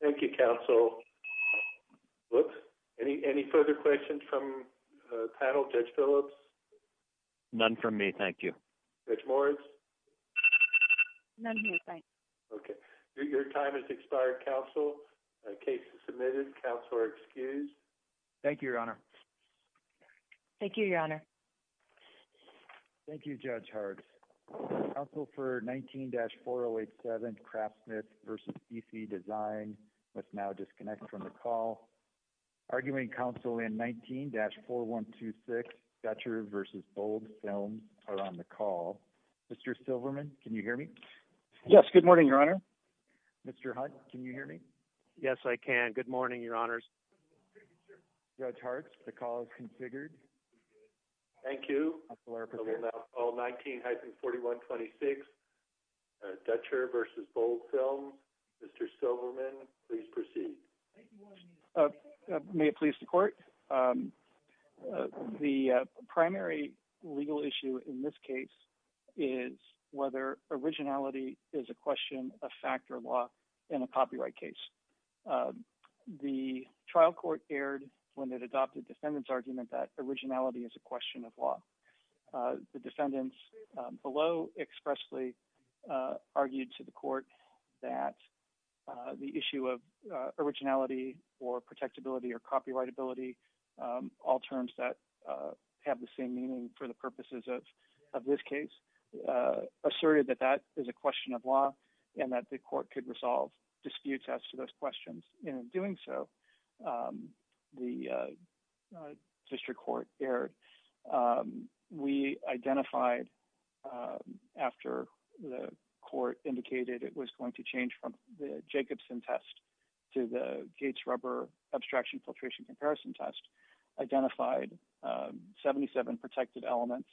Thank You counsel. Any further questions from panel? Judge Phillips? None from me, thank you. Judge Moritz? None here, thank you. Your time has expired, counsel. Case is submitted. Counselor excused. Thank you, Your Honor. Thank you, Your Honor. Thank you, Judge Hartz. Counsel for 19-4087 Craftsmith v. CC Design must now disconnect from the call. Arguing counsel in 19-4126 Dutcher v. Bold Films are on the call. Mr. Silverman, can you hear me? Yes, good morning, Your Honor. Mr. Hunt, can you hear me? Yes, I can. Good morning, Your Honors. Judge Hartz, the call is configured. Thank you. I will now call 19-4126 Dutcher v. Bold Films. Mr. Silverman, please proceed. May it please the court. The primary legal issue in this case is whether originality is a question of fact or law in a copyright case. The trial court erred when it adopted defendant's argument that originality is a question of law. The defendants below expressly argued to the court that the issue of originality or protectability or copyrightability, all terms that have the same meaning for the purposes of this case, asserted that that is a question of law and that the court could resolve disputes as to those questions. In doing so, the district court erred. We identified after the court indicated it was going to change from the Jacobson test to the Gates rubber abstraction filtration comparison test, identified 77 protected elements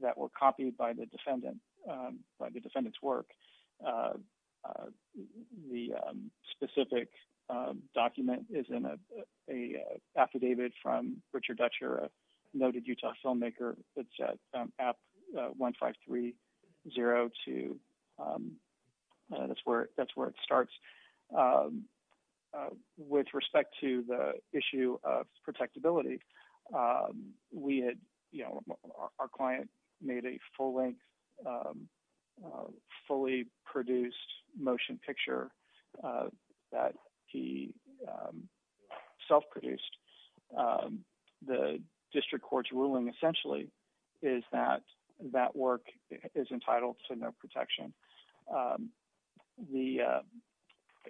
that were copied by the defendant's work. The specific document is in an affidavit from Richard Dutcher, a noted Utah filmmaker. It's at app 15302. That's where our client made a full length, fully produced motion picture that he self-produced. The district court's ruling essentially is that that work is entitled to no protection.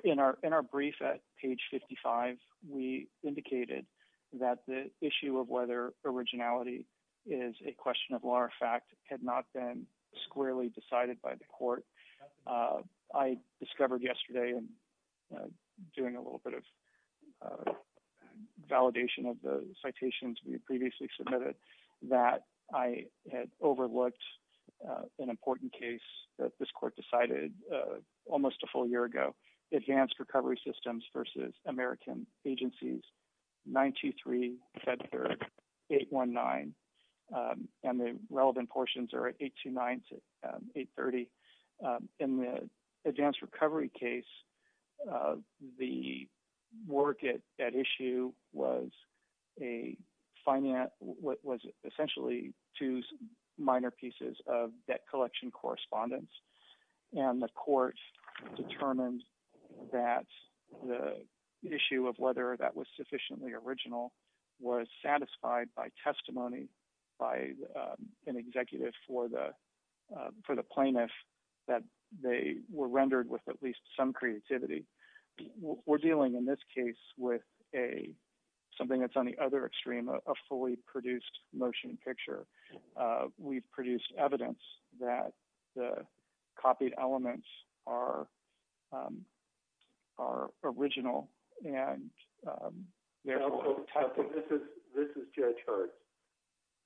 In our brief at page 55, we indicated that the issue of whether originality is a question of law or fact had not been squarely decided by the court. I discovered yesterday, doing a little bit of validation of the citations we had previously submitted, that I had overlooked an important case that this court decided almost a full year ago, advanced recovery systems versus American agencies, 923, Fed Third, 819. The relevant portions are at 829 to 830. In the advanced recovery case, the work at issue was essentially two minor pieces of that collection correspondence. The court determined that the issue of whether that was sufficiently original was satisfied by testimony by an executive for the plaintiff that they were rendered with at least some creativity. We're dealing in this case with something that's on the other extreme, a fully produced motion picture. We've produced evidence that the copied elements are original. This is Judge Hart.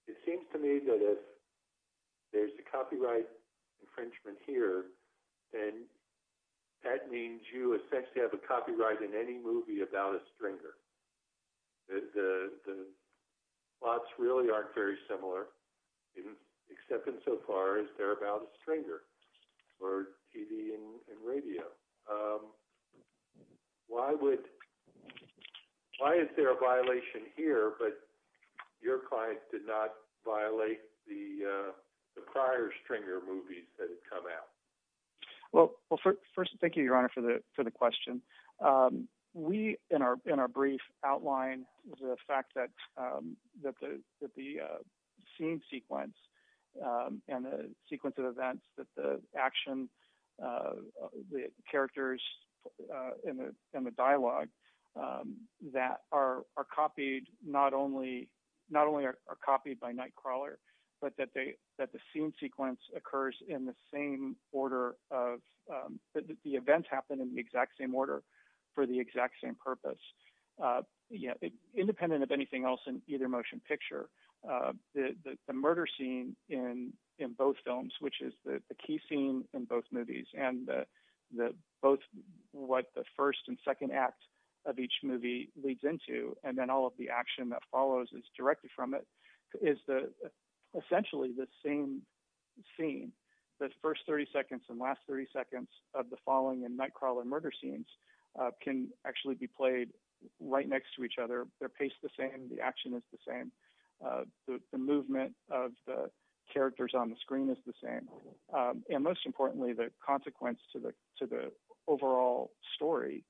It seems to me that if there's a copyright infringement here, then that means you essentially have a copyright in any movie about a stringer. The plots really aren't very similar, except insofar as they're about a stringer for TV and radio. Why is there a violation here, but your client did not violate the prior stringer movies that had come out? First, thank you, Your Honor, for the question. We, in our brief, outline the fact that the scene sequence and the sequence of events that the action, the characters in the dialogue that are copied not only are copied by Nightcrawler, but that the scene sequence occurs in the same order. The events happen in the exact same order for the exact same purpose. Independent of anything else in either motion picture, the murder scene in both films, which is the key scene in both movies, and what the first and second act of each movie leads into, and then all of the action that follows is directed from it, is essentially the same scene. The first 30 seconds and last 30 seconds of the following in Nightcrawler murder scenes can actually be played right next to each other. They're paced the same. The action is the same. The movement of the characters on the screen is the same. Most importantly, the consequence to the overall story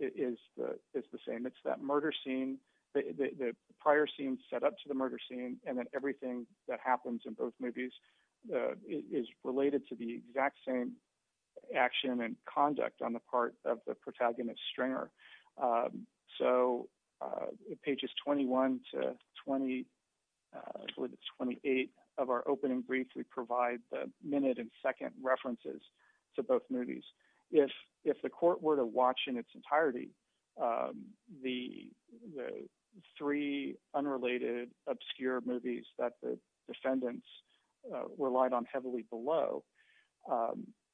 is the same. It's that murder scene, the prior scene set up to the murder scene, and then everything that happens in both movies is related to the exact same action and conduct on the part of the protagonist, Stringer. So, pages 21 to 28 of our opening brief, we provide the minute and second references to both movies. If the court were to watch in its entirety the three unrelated obscure movies that the defendants relied on heavily below,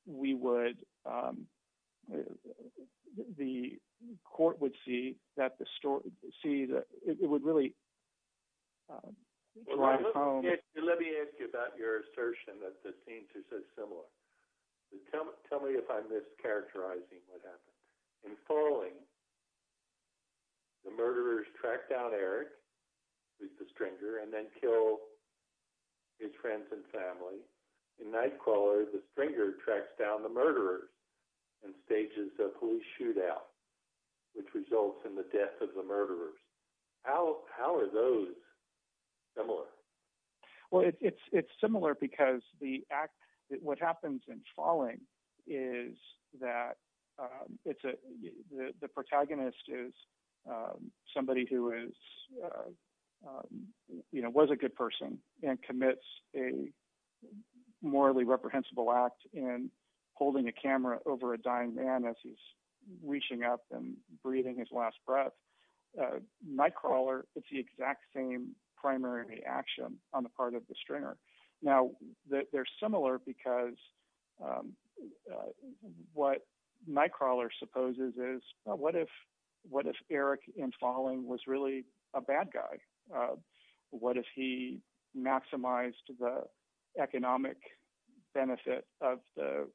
we would, the court would see that the story, see that it would really drive home... Let me ask you about your assertion that the tell me if I'm mischaracterizing what happened. In Crawling, the murderers track down Eric, the Stringer, and then kill his friends and family. In Nightcrawler, the Stringer tracks down the murderers and stages a police shootout, which results in the death of the murderers. How are those similar? Well, it's similar because the act, what happens in Crawling is that the protagonist is somebody who is, you know, was a good person and commits a morally reprehensible act in holding a camera over a dying man as he's reaching up and breathing his last breath. Nightcrawler, it's the exact same primary action on the part of the Stringer. Now, they're similar because what Nightcrawler supposes is, what if Eric in Crawling was really a bad guy? What if he maximized the economic benefit of the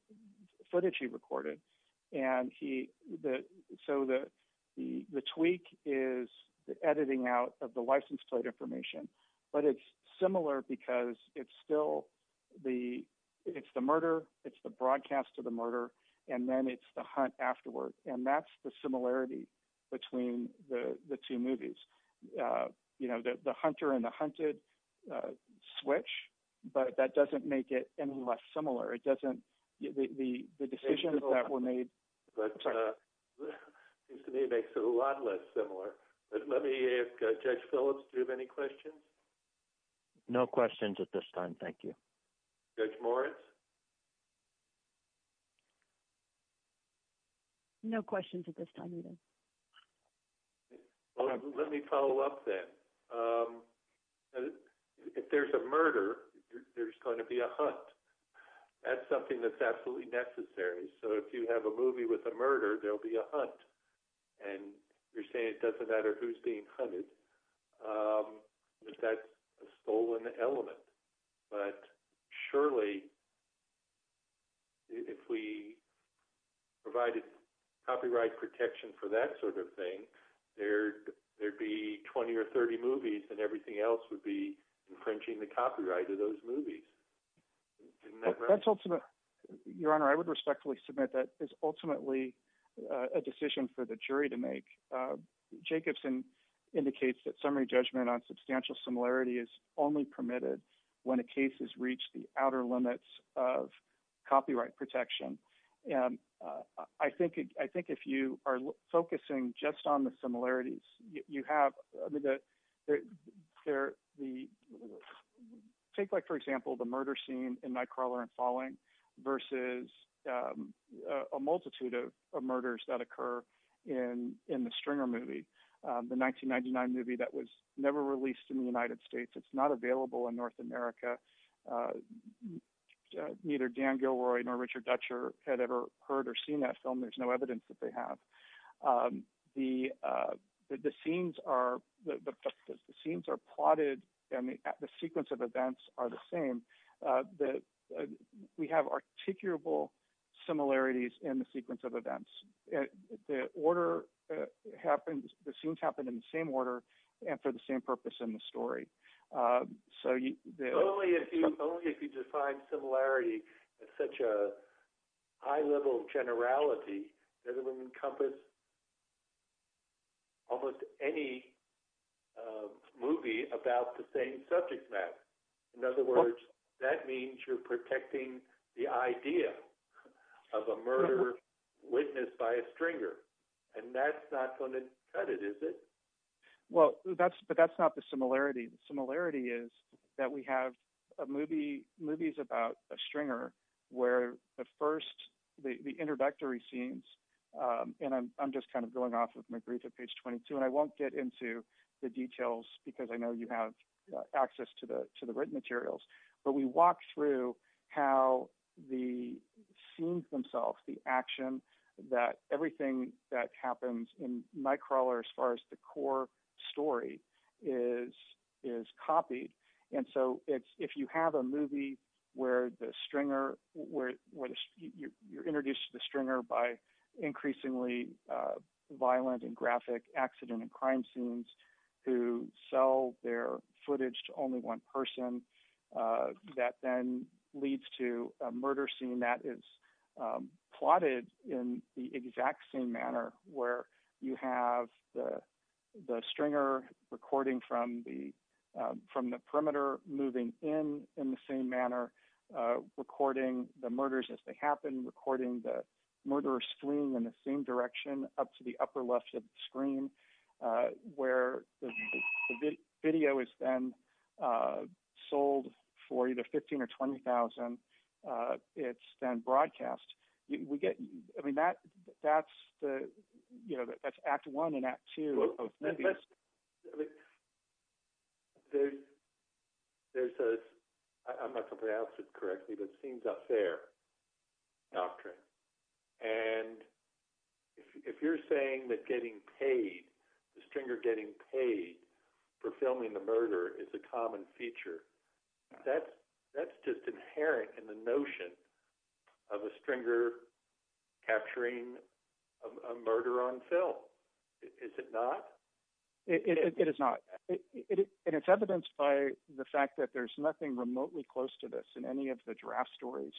footage he recorded? And he, so the tweak is the editing out of the license information. But it's similar because it's still the, it's the murder, it's the broadcast of the murder, and then it's the hunt afterward. And that's the similarity between the two movies. You know, the hunter and the hunted switch, but that doesn't make it any less similar. It doesn't, the decisions that were made. It seems to me it makes it a lot less similar. But let me, Judge Phillips, do you have any questions? No questions at this time. Thank you. Judge Morris. No questions at this time either. Let me follow up then. If there's a murder, there's going to be a hunt. That's something that's absolutely necessary. So if you have a murder, that's a stolen element. But surely, if we provided copyright protection for that sort of thing, there'd be 20 or 30 movies and everything else would be infringing the copyright of those movies. Your Honor, I would respectfully submit that is ultimately a decision for the jury to make. Jacobson indicates that summary judgment on substantial similarity is only permitted when a case has reached the outer limits of copyright protection. And I think, I think if you are focusing just on the similarities, you have the, there, the, take like, for example, the murder scene in Nightcrawler and Falling versus a multitude of murders that occur in, in the Stringer movie, the 1999 movie that was never released in the United States. It's not available in North America. Neither Dan Gilroy nor Richard Dutcher had ever heard or seen that film. There's no evidence that they have. The, the scenes are, the scenes are plotted and the sequence of events are the same. The, we have articulable similarities in the sequence of events. The order happens, the scenes happen in the same order and for the same purpose in the story. So you, only if you, only if you define similarity at such a high level of generality that it would encompass almost any movie about the same subject matter. In other words, that means you're protecting the idea of a murder witnessed by a Stringer. And that's not going to cut it, is it? Well, that's, but that's not the similarity. The similarity is that we have a movie, movies about a Stringer where the first, the, the introductory scenes and I'm, I'm just kind of going off of my brief at page 22 and I won't get into the details because I know you have access to the, to the written materials, but we walk through how the scenes themselves, the action, that everything that happens in Nightcrawler as far as the core story is, is copied. And so it's, you have a movie where the Stringer, where you're introduced to the Stringer by increasingly violent and graphic accident and crime scenes who sell their footage to only one person, that then leads to a murder scene that is plotted in the exact same manner where you have the, the Stringer recording from the, from the perimeter, moving in, in the same manner, recording the murders as they happen, recording the murderer fleeing in the same direction up to the upper left of the screen where the video is then sold for either 15 or 20,000. It's then maybe, I mean, there's, there's a, I'm not going to pronounce it correctly, but it seems unfair doctrine. And if you're saying that getting paid, the Stringer getting paid for filming the murder is a common feature, that's, that's just inherent in the notion of a Stringer capturing a murder on film. Is it not? It is not. And it's evidenced by the fact that there's nothing remotely close to this in any of the draft stories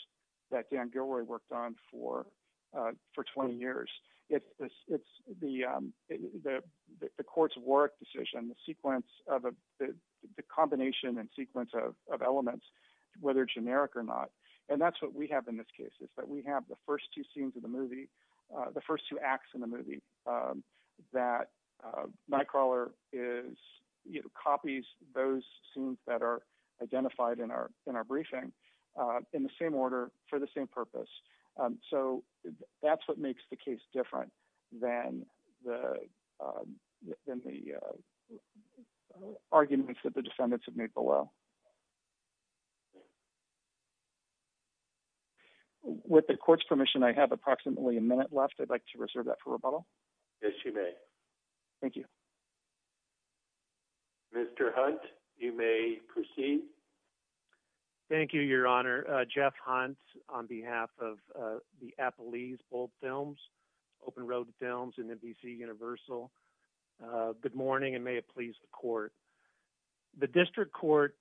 that Dan Gilroy worked on for, for 20 years. It's, it's the, the court's Warwick decision, the sequence of a, the combination and sequence of elements, whether generic or not. And that's what we have in this case is that we have the first two scenes of the movie, the first two acts in the movie that Nightcrawler is, you know, copies those scenes that are identified in our, in our briefing in the same order for the same purpose. So that's what makes the case different than the, than the arguments that the defendants have made below. With the court's permission, I have approximately a minute left. I'd like to reserve that for rebuttal. Yes, you may. Thank you. Mr. Hunt, you may proceed. Thank you, your honor. Jeff Hunt on behalf of the Apple leaves, both films, open road films and NBC universal. Good morning and may it please the court, the district court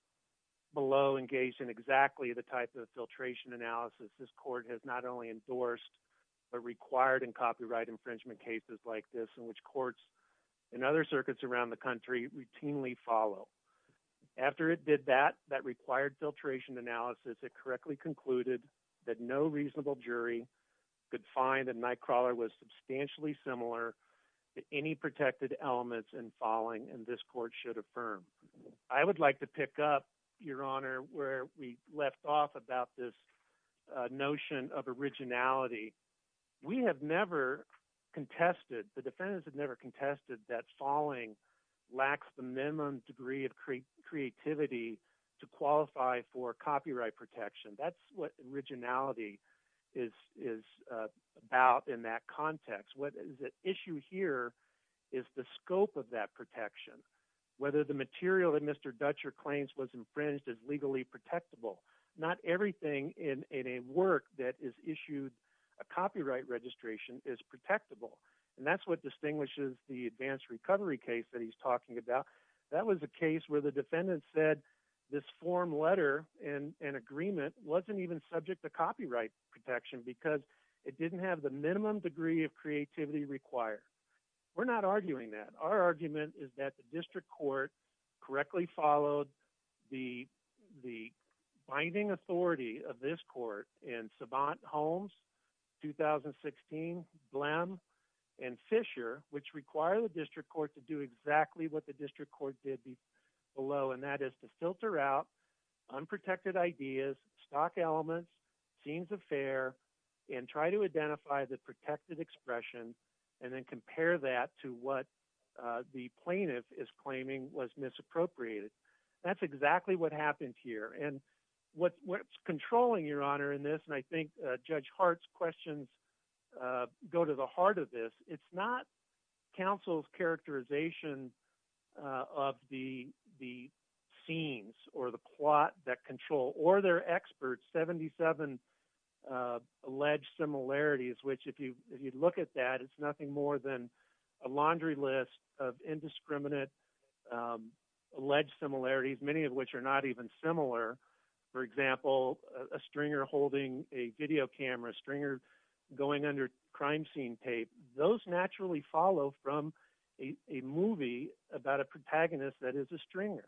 below engaged in exactly the type of filtration analysis. This court has not only endorsed, but required in copyright infringement cases like this in which courts and other circuits around the country routinely follow after it did that, that required filtration analysis. It correctly concluded that no reasonable jury could find that Nightcrawler was substantially similar to any protected elements and falling. And this court should affirm. I would like to pick up your honor where we left off about this notion of originality. We have never contested, the defendants have never contested that falling lacks the minimum degree of creativity to qualify for copyright protection. That's what originality is about in that context. What is at issue here is the scope of that protection. Whether the material that Mr. Dutcher claims was infringed is legally protectable. Not everything in a work that is issued a copyright registration is protectable. And that's what distinguishes the advanced recovery case that he's talking about. That was a case where the defendant said this form letter and agreement wasn't even subject to copyright protection because it didn't have the minimum degree of creativity required. We're not arguing that. Our argument is that the district court correctly followed the binding authority of this court in Sabant, Holmes, 2016, Blem, and Fisher, which require the district court to do exactly what the district court did below. And that is to filter out unprotected ideas, stock elements, scenes of fare, and try to identify the protected expression and then compare that to what the plaintiff is claiming was misappropriated. That's exactly what happened here. And what's controlling, Your Honor, in this, and I think Judge Hart's questions go to the heart of this, it's not counsel's characterization of the scenes or the plot that control or their experts, 77 alleged similarities, which if you look at that, it's nothing more than a laundry list of indiscriminate alleged similarities, many of which are not even similar. For example, a stringer holding a video camera, a stringer going under crime scene tape, those naturally follow from a movie about a protagonist that is a stringer.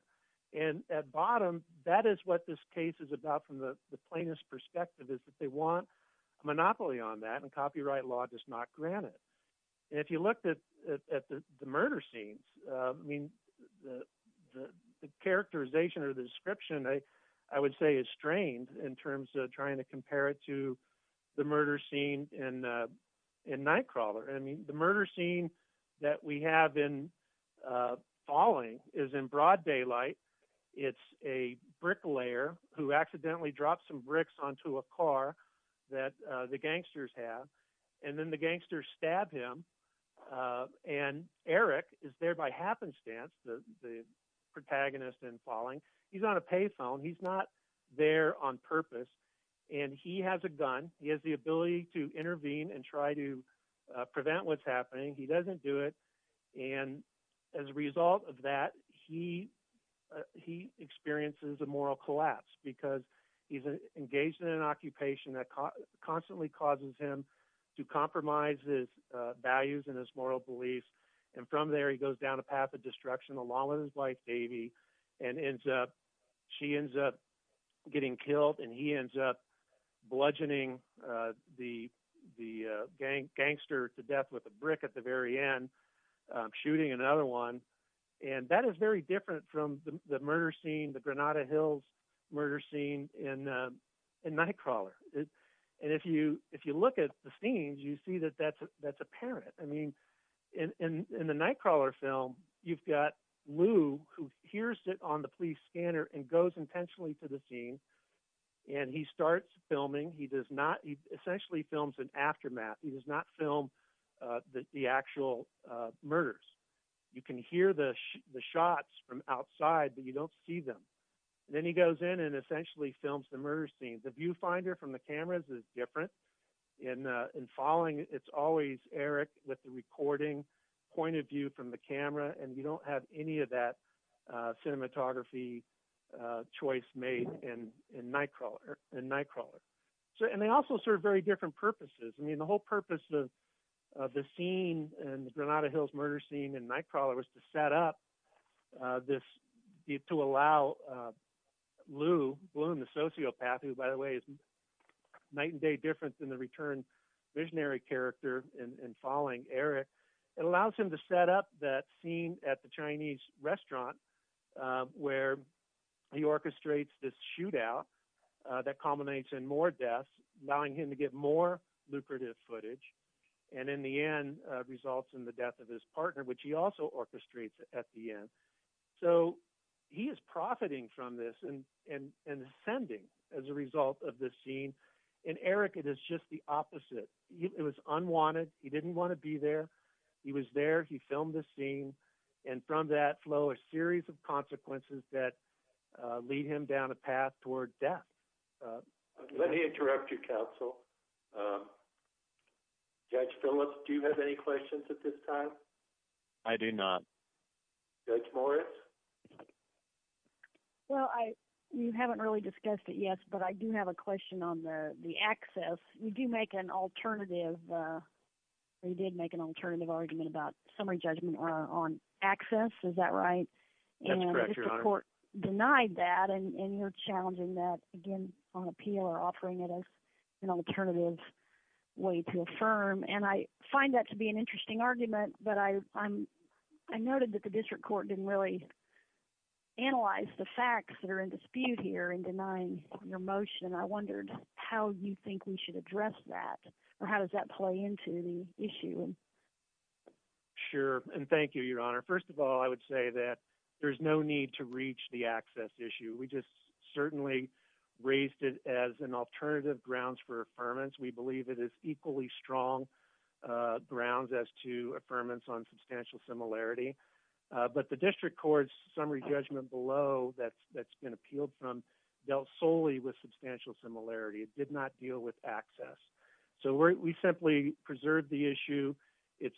And at bottom, that is what this case is about from the plaintiff's perspective, is that they want a monopoly on that and copyright law does not grant it. If you looked at the murder scenes, I mean, the characterization or the description, I would say is strained in terms of trying to compare it to the murder scene in Nightcrawler. I mean, the murder scene that we have in Falling is in broad daylight. It's a bricklayer who is trying to murder him. And Eric is there by happenstance, the protagonist in Falling. He's on a pay phone. He's not there on purpose. And he has a gun. He has the ability to intervene and try to prevent what's happening. He doesn't do it. And as a result of that, he experiences a moral collapse because he's engaged in an occupation that constantly causes him to compromise his values and his moral beliefs. And from there, he goes down a path of destruction along with his wife, Davy, and she ends up getting killed and he ends up bludgeoning the gangster to death with a brick at the very end, shooting another one. And that is very different from the murder scene, the Granada Hills murder scene in Nightcrawler. And if you look at the scenes, you see that that's apparent. I mean, in the Nightcrawler film, you've got Lou who hears it on the police scanner and goes intentionally to the scene. And he starts filming. He essentially films an aftermath. He does not film the actual murders. You can hear the shots from outside, but you don't see them. And then he goes in and essentially films the murder scene. The viewfinder from the cameras is different. In Falling, it's always Eric with the recording point of view from the camera, and you don't have any of that cinematography choice made in Nightcrawler. And they also serve very different purposes. I mean, the whole purpose of the scene in the Granada Hills murder scene in Nightcrawler was to set up this, to allow Lou Bloom, the sociopath, who, by the way, is night and day different than the return visionary character in Falling, Eric, it allows him to set up that scene at the Chinese restaurant where he orchestrates this shootout that culminates in more deaths, allowing him to get more lucrative footage, and in the end results in the death of his partner, which he also orchestrates at the end. So he is profiting from this and ascending as a result of this scene. In Eric, it is just the opposite. It was unwanted. He didn't want to be there. He was there. He filmed the scene. And from that flow a series of consequences that lead him down a path toward death. Let me interrupt you, counsel. Judge Phillips, do you have any questions at this time? I do not. Judge Morris? Well, you haven't really discussed it yet, but I do have a question on the access. You do make an alternative, or you did make an alternative argument about summary judgment on access. Is that right? That's correct, Your Honor. And the court denied that, and you're challenging that on appeal or offering it as an alternative way to affirm. And I find that to be an interesting argument, but I noted that the district court didn't really analyze the facts that are in dispute here in denying your motion. I wondered how you think we should address that, or how does that play into the issue? Sure. And thank you, Your Honor. First of all, I would say that there's no to reach the access issue. We just certainly raised it as an alternative grounds for affirmance. We believe it is equally strong grounds as to affirmance on substantial similarity. But the district court's summary judgment below that's been appealed from dealt solely with substantial similarity. It did not deal with access. So we simply preserve the issue. It's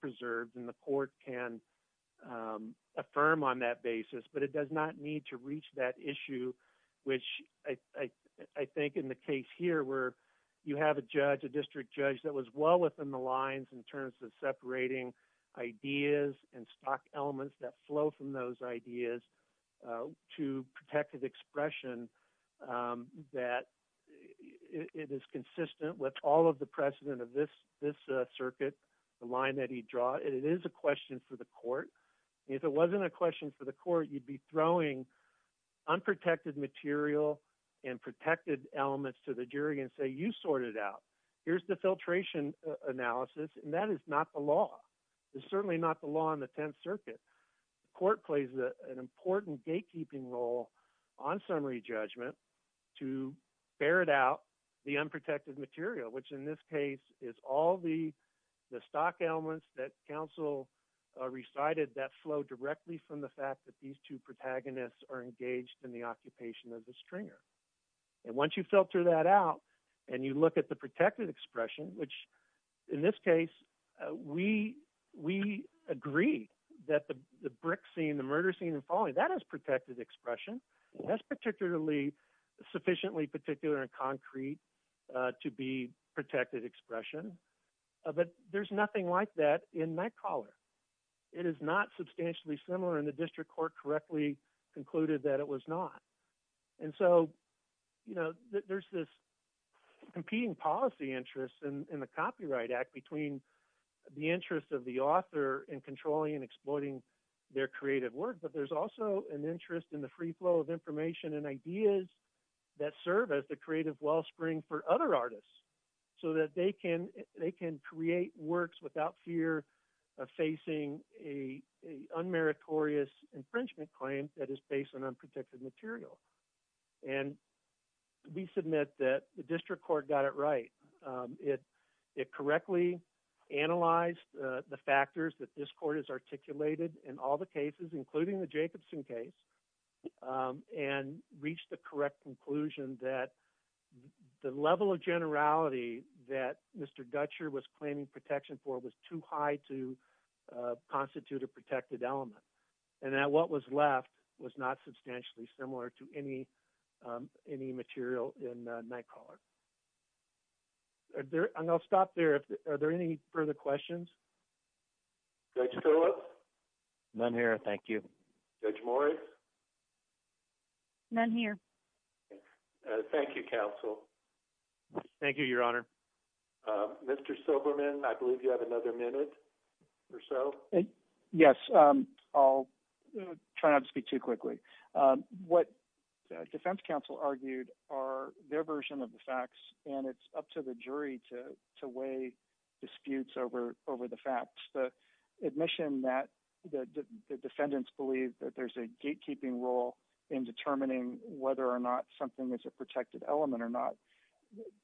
preserved, and the court can affirm on that basis, but it does not need to reach that issue, which I think in the case here where you have a judge, a district judge that was well within the lines in terms of separating ideas and stock elements that flow from those ideas to protect his expression, that it is consistent with all of the precedent of this circuit, the line that he draws, and it is a question for the court. If it wasn't a question for the court, you'd be throwing unprotected material and protected elements to the jury and say, you sort it out. Here's the filtration analysis, and that is not the law. It's certainly not the law in the Tenth Circuit. The court plays an important gatekeeping role on summary judgment to ferret out the unprotected material, which in this case is all the stock elements that counsel recited that flow directly from the fact that these two protagonists are engaged in the occupation of the stringer. And once you filter that out and you look at the protected expression, which in this case, we agree that the brick scene, the murder scene and following, that is protected expression. That's sufficiently particular and concrete to be protected expression. But there's nothing like that in Nightcrawler. It is not substantially similar, and the district court correctly concluded that it was not. And so there's this competing policy interest in the Copyright Act between the interest of the author in controlling and exploiting their creative work, but there's also an interest in the free flow of information and ideas that serve as the creative wellspring for other artists so that they can create works without fear of facing a unmeritorious infringement claim that is based on unprotected material. And we submit that the district court got it right. It correctly analyzed the factors that this court has articulated in all the cases, including the Jacobson case, and reached the correct conclusion that the level of generality that Mr. Dutcher was claiming protection for was too high to constitute a protected element, and that what was left was not substantially similar to any material in Nightcrawler. And I'll stop there. Are there any further questions? Judge Phillips? None here. Thank you. Judge Morris? None here. Thank you, counsel. Thank you, Your Honor. Mr. Silberman, I believe you have another minute or so. Yes. I'll try not to speak too quickly. What the defense counsel argued are their version of the facts, and it's up to the jury to weigh disputes over the facts. The admission that the defendants believe that there's a gatekeeping role in determining whether or not something is a protected element or not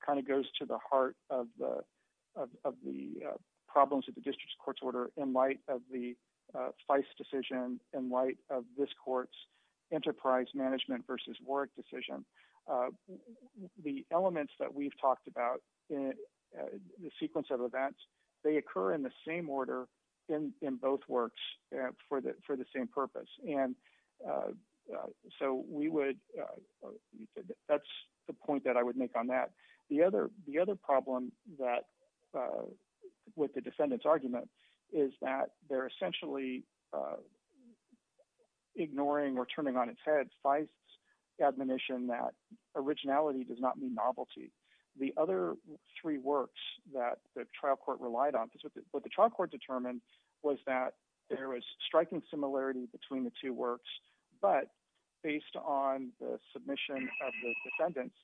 kind of goes to the heart of the problems of the district's court order in light of the FICE decision, in light of this court's enterprise management versus Warwick decision. The elements that we've talked about, the sequence of events, they occur in the same order in both works for the same purpose. And so we would, that's the point that I would make on that. The other problem that, with the defendant's argument, is that they're essentially ignoring or turning on its head FICE's admonition that originality does not mean novelty. The other three works that the trial court relied on, because what the trial court determined was that there was striking similarity between the two works, but based on the submission of the defendants,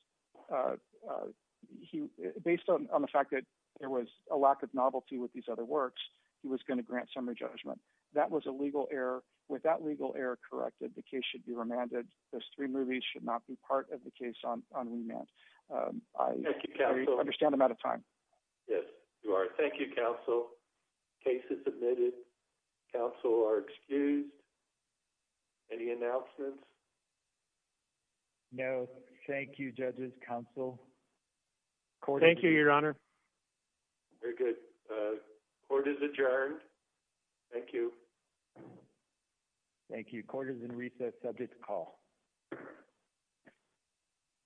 based on the fact that there was a lack of novelty with these other works, he was going to grant summary judgment. That was a legal error. With that legal error corrected, the case should be remanded. Those three movies should not be part of the case on remand. Thank you, counsel. I understand I'm out of time. Yes, you are. Thank you, counsel. Case is admitted. Counsel are excused. Any announcements? No. Thank you, judges, counsel. Thank you, your honor. Very good. Court is adjourned. Thank you. Thank you. Court is in recess. Subject to call.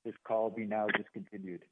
This call be now discontinued.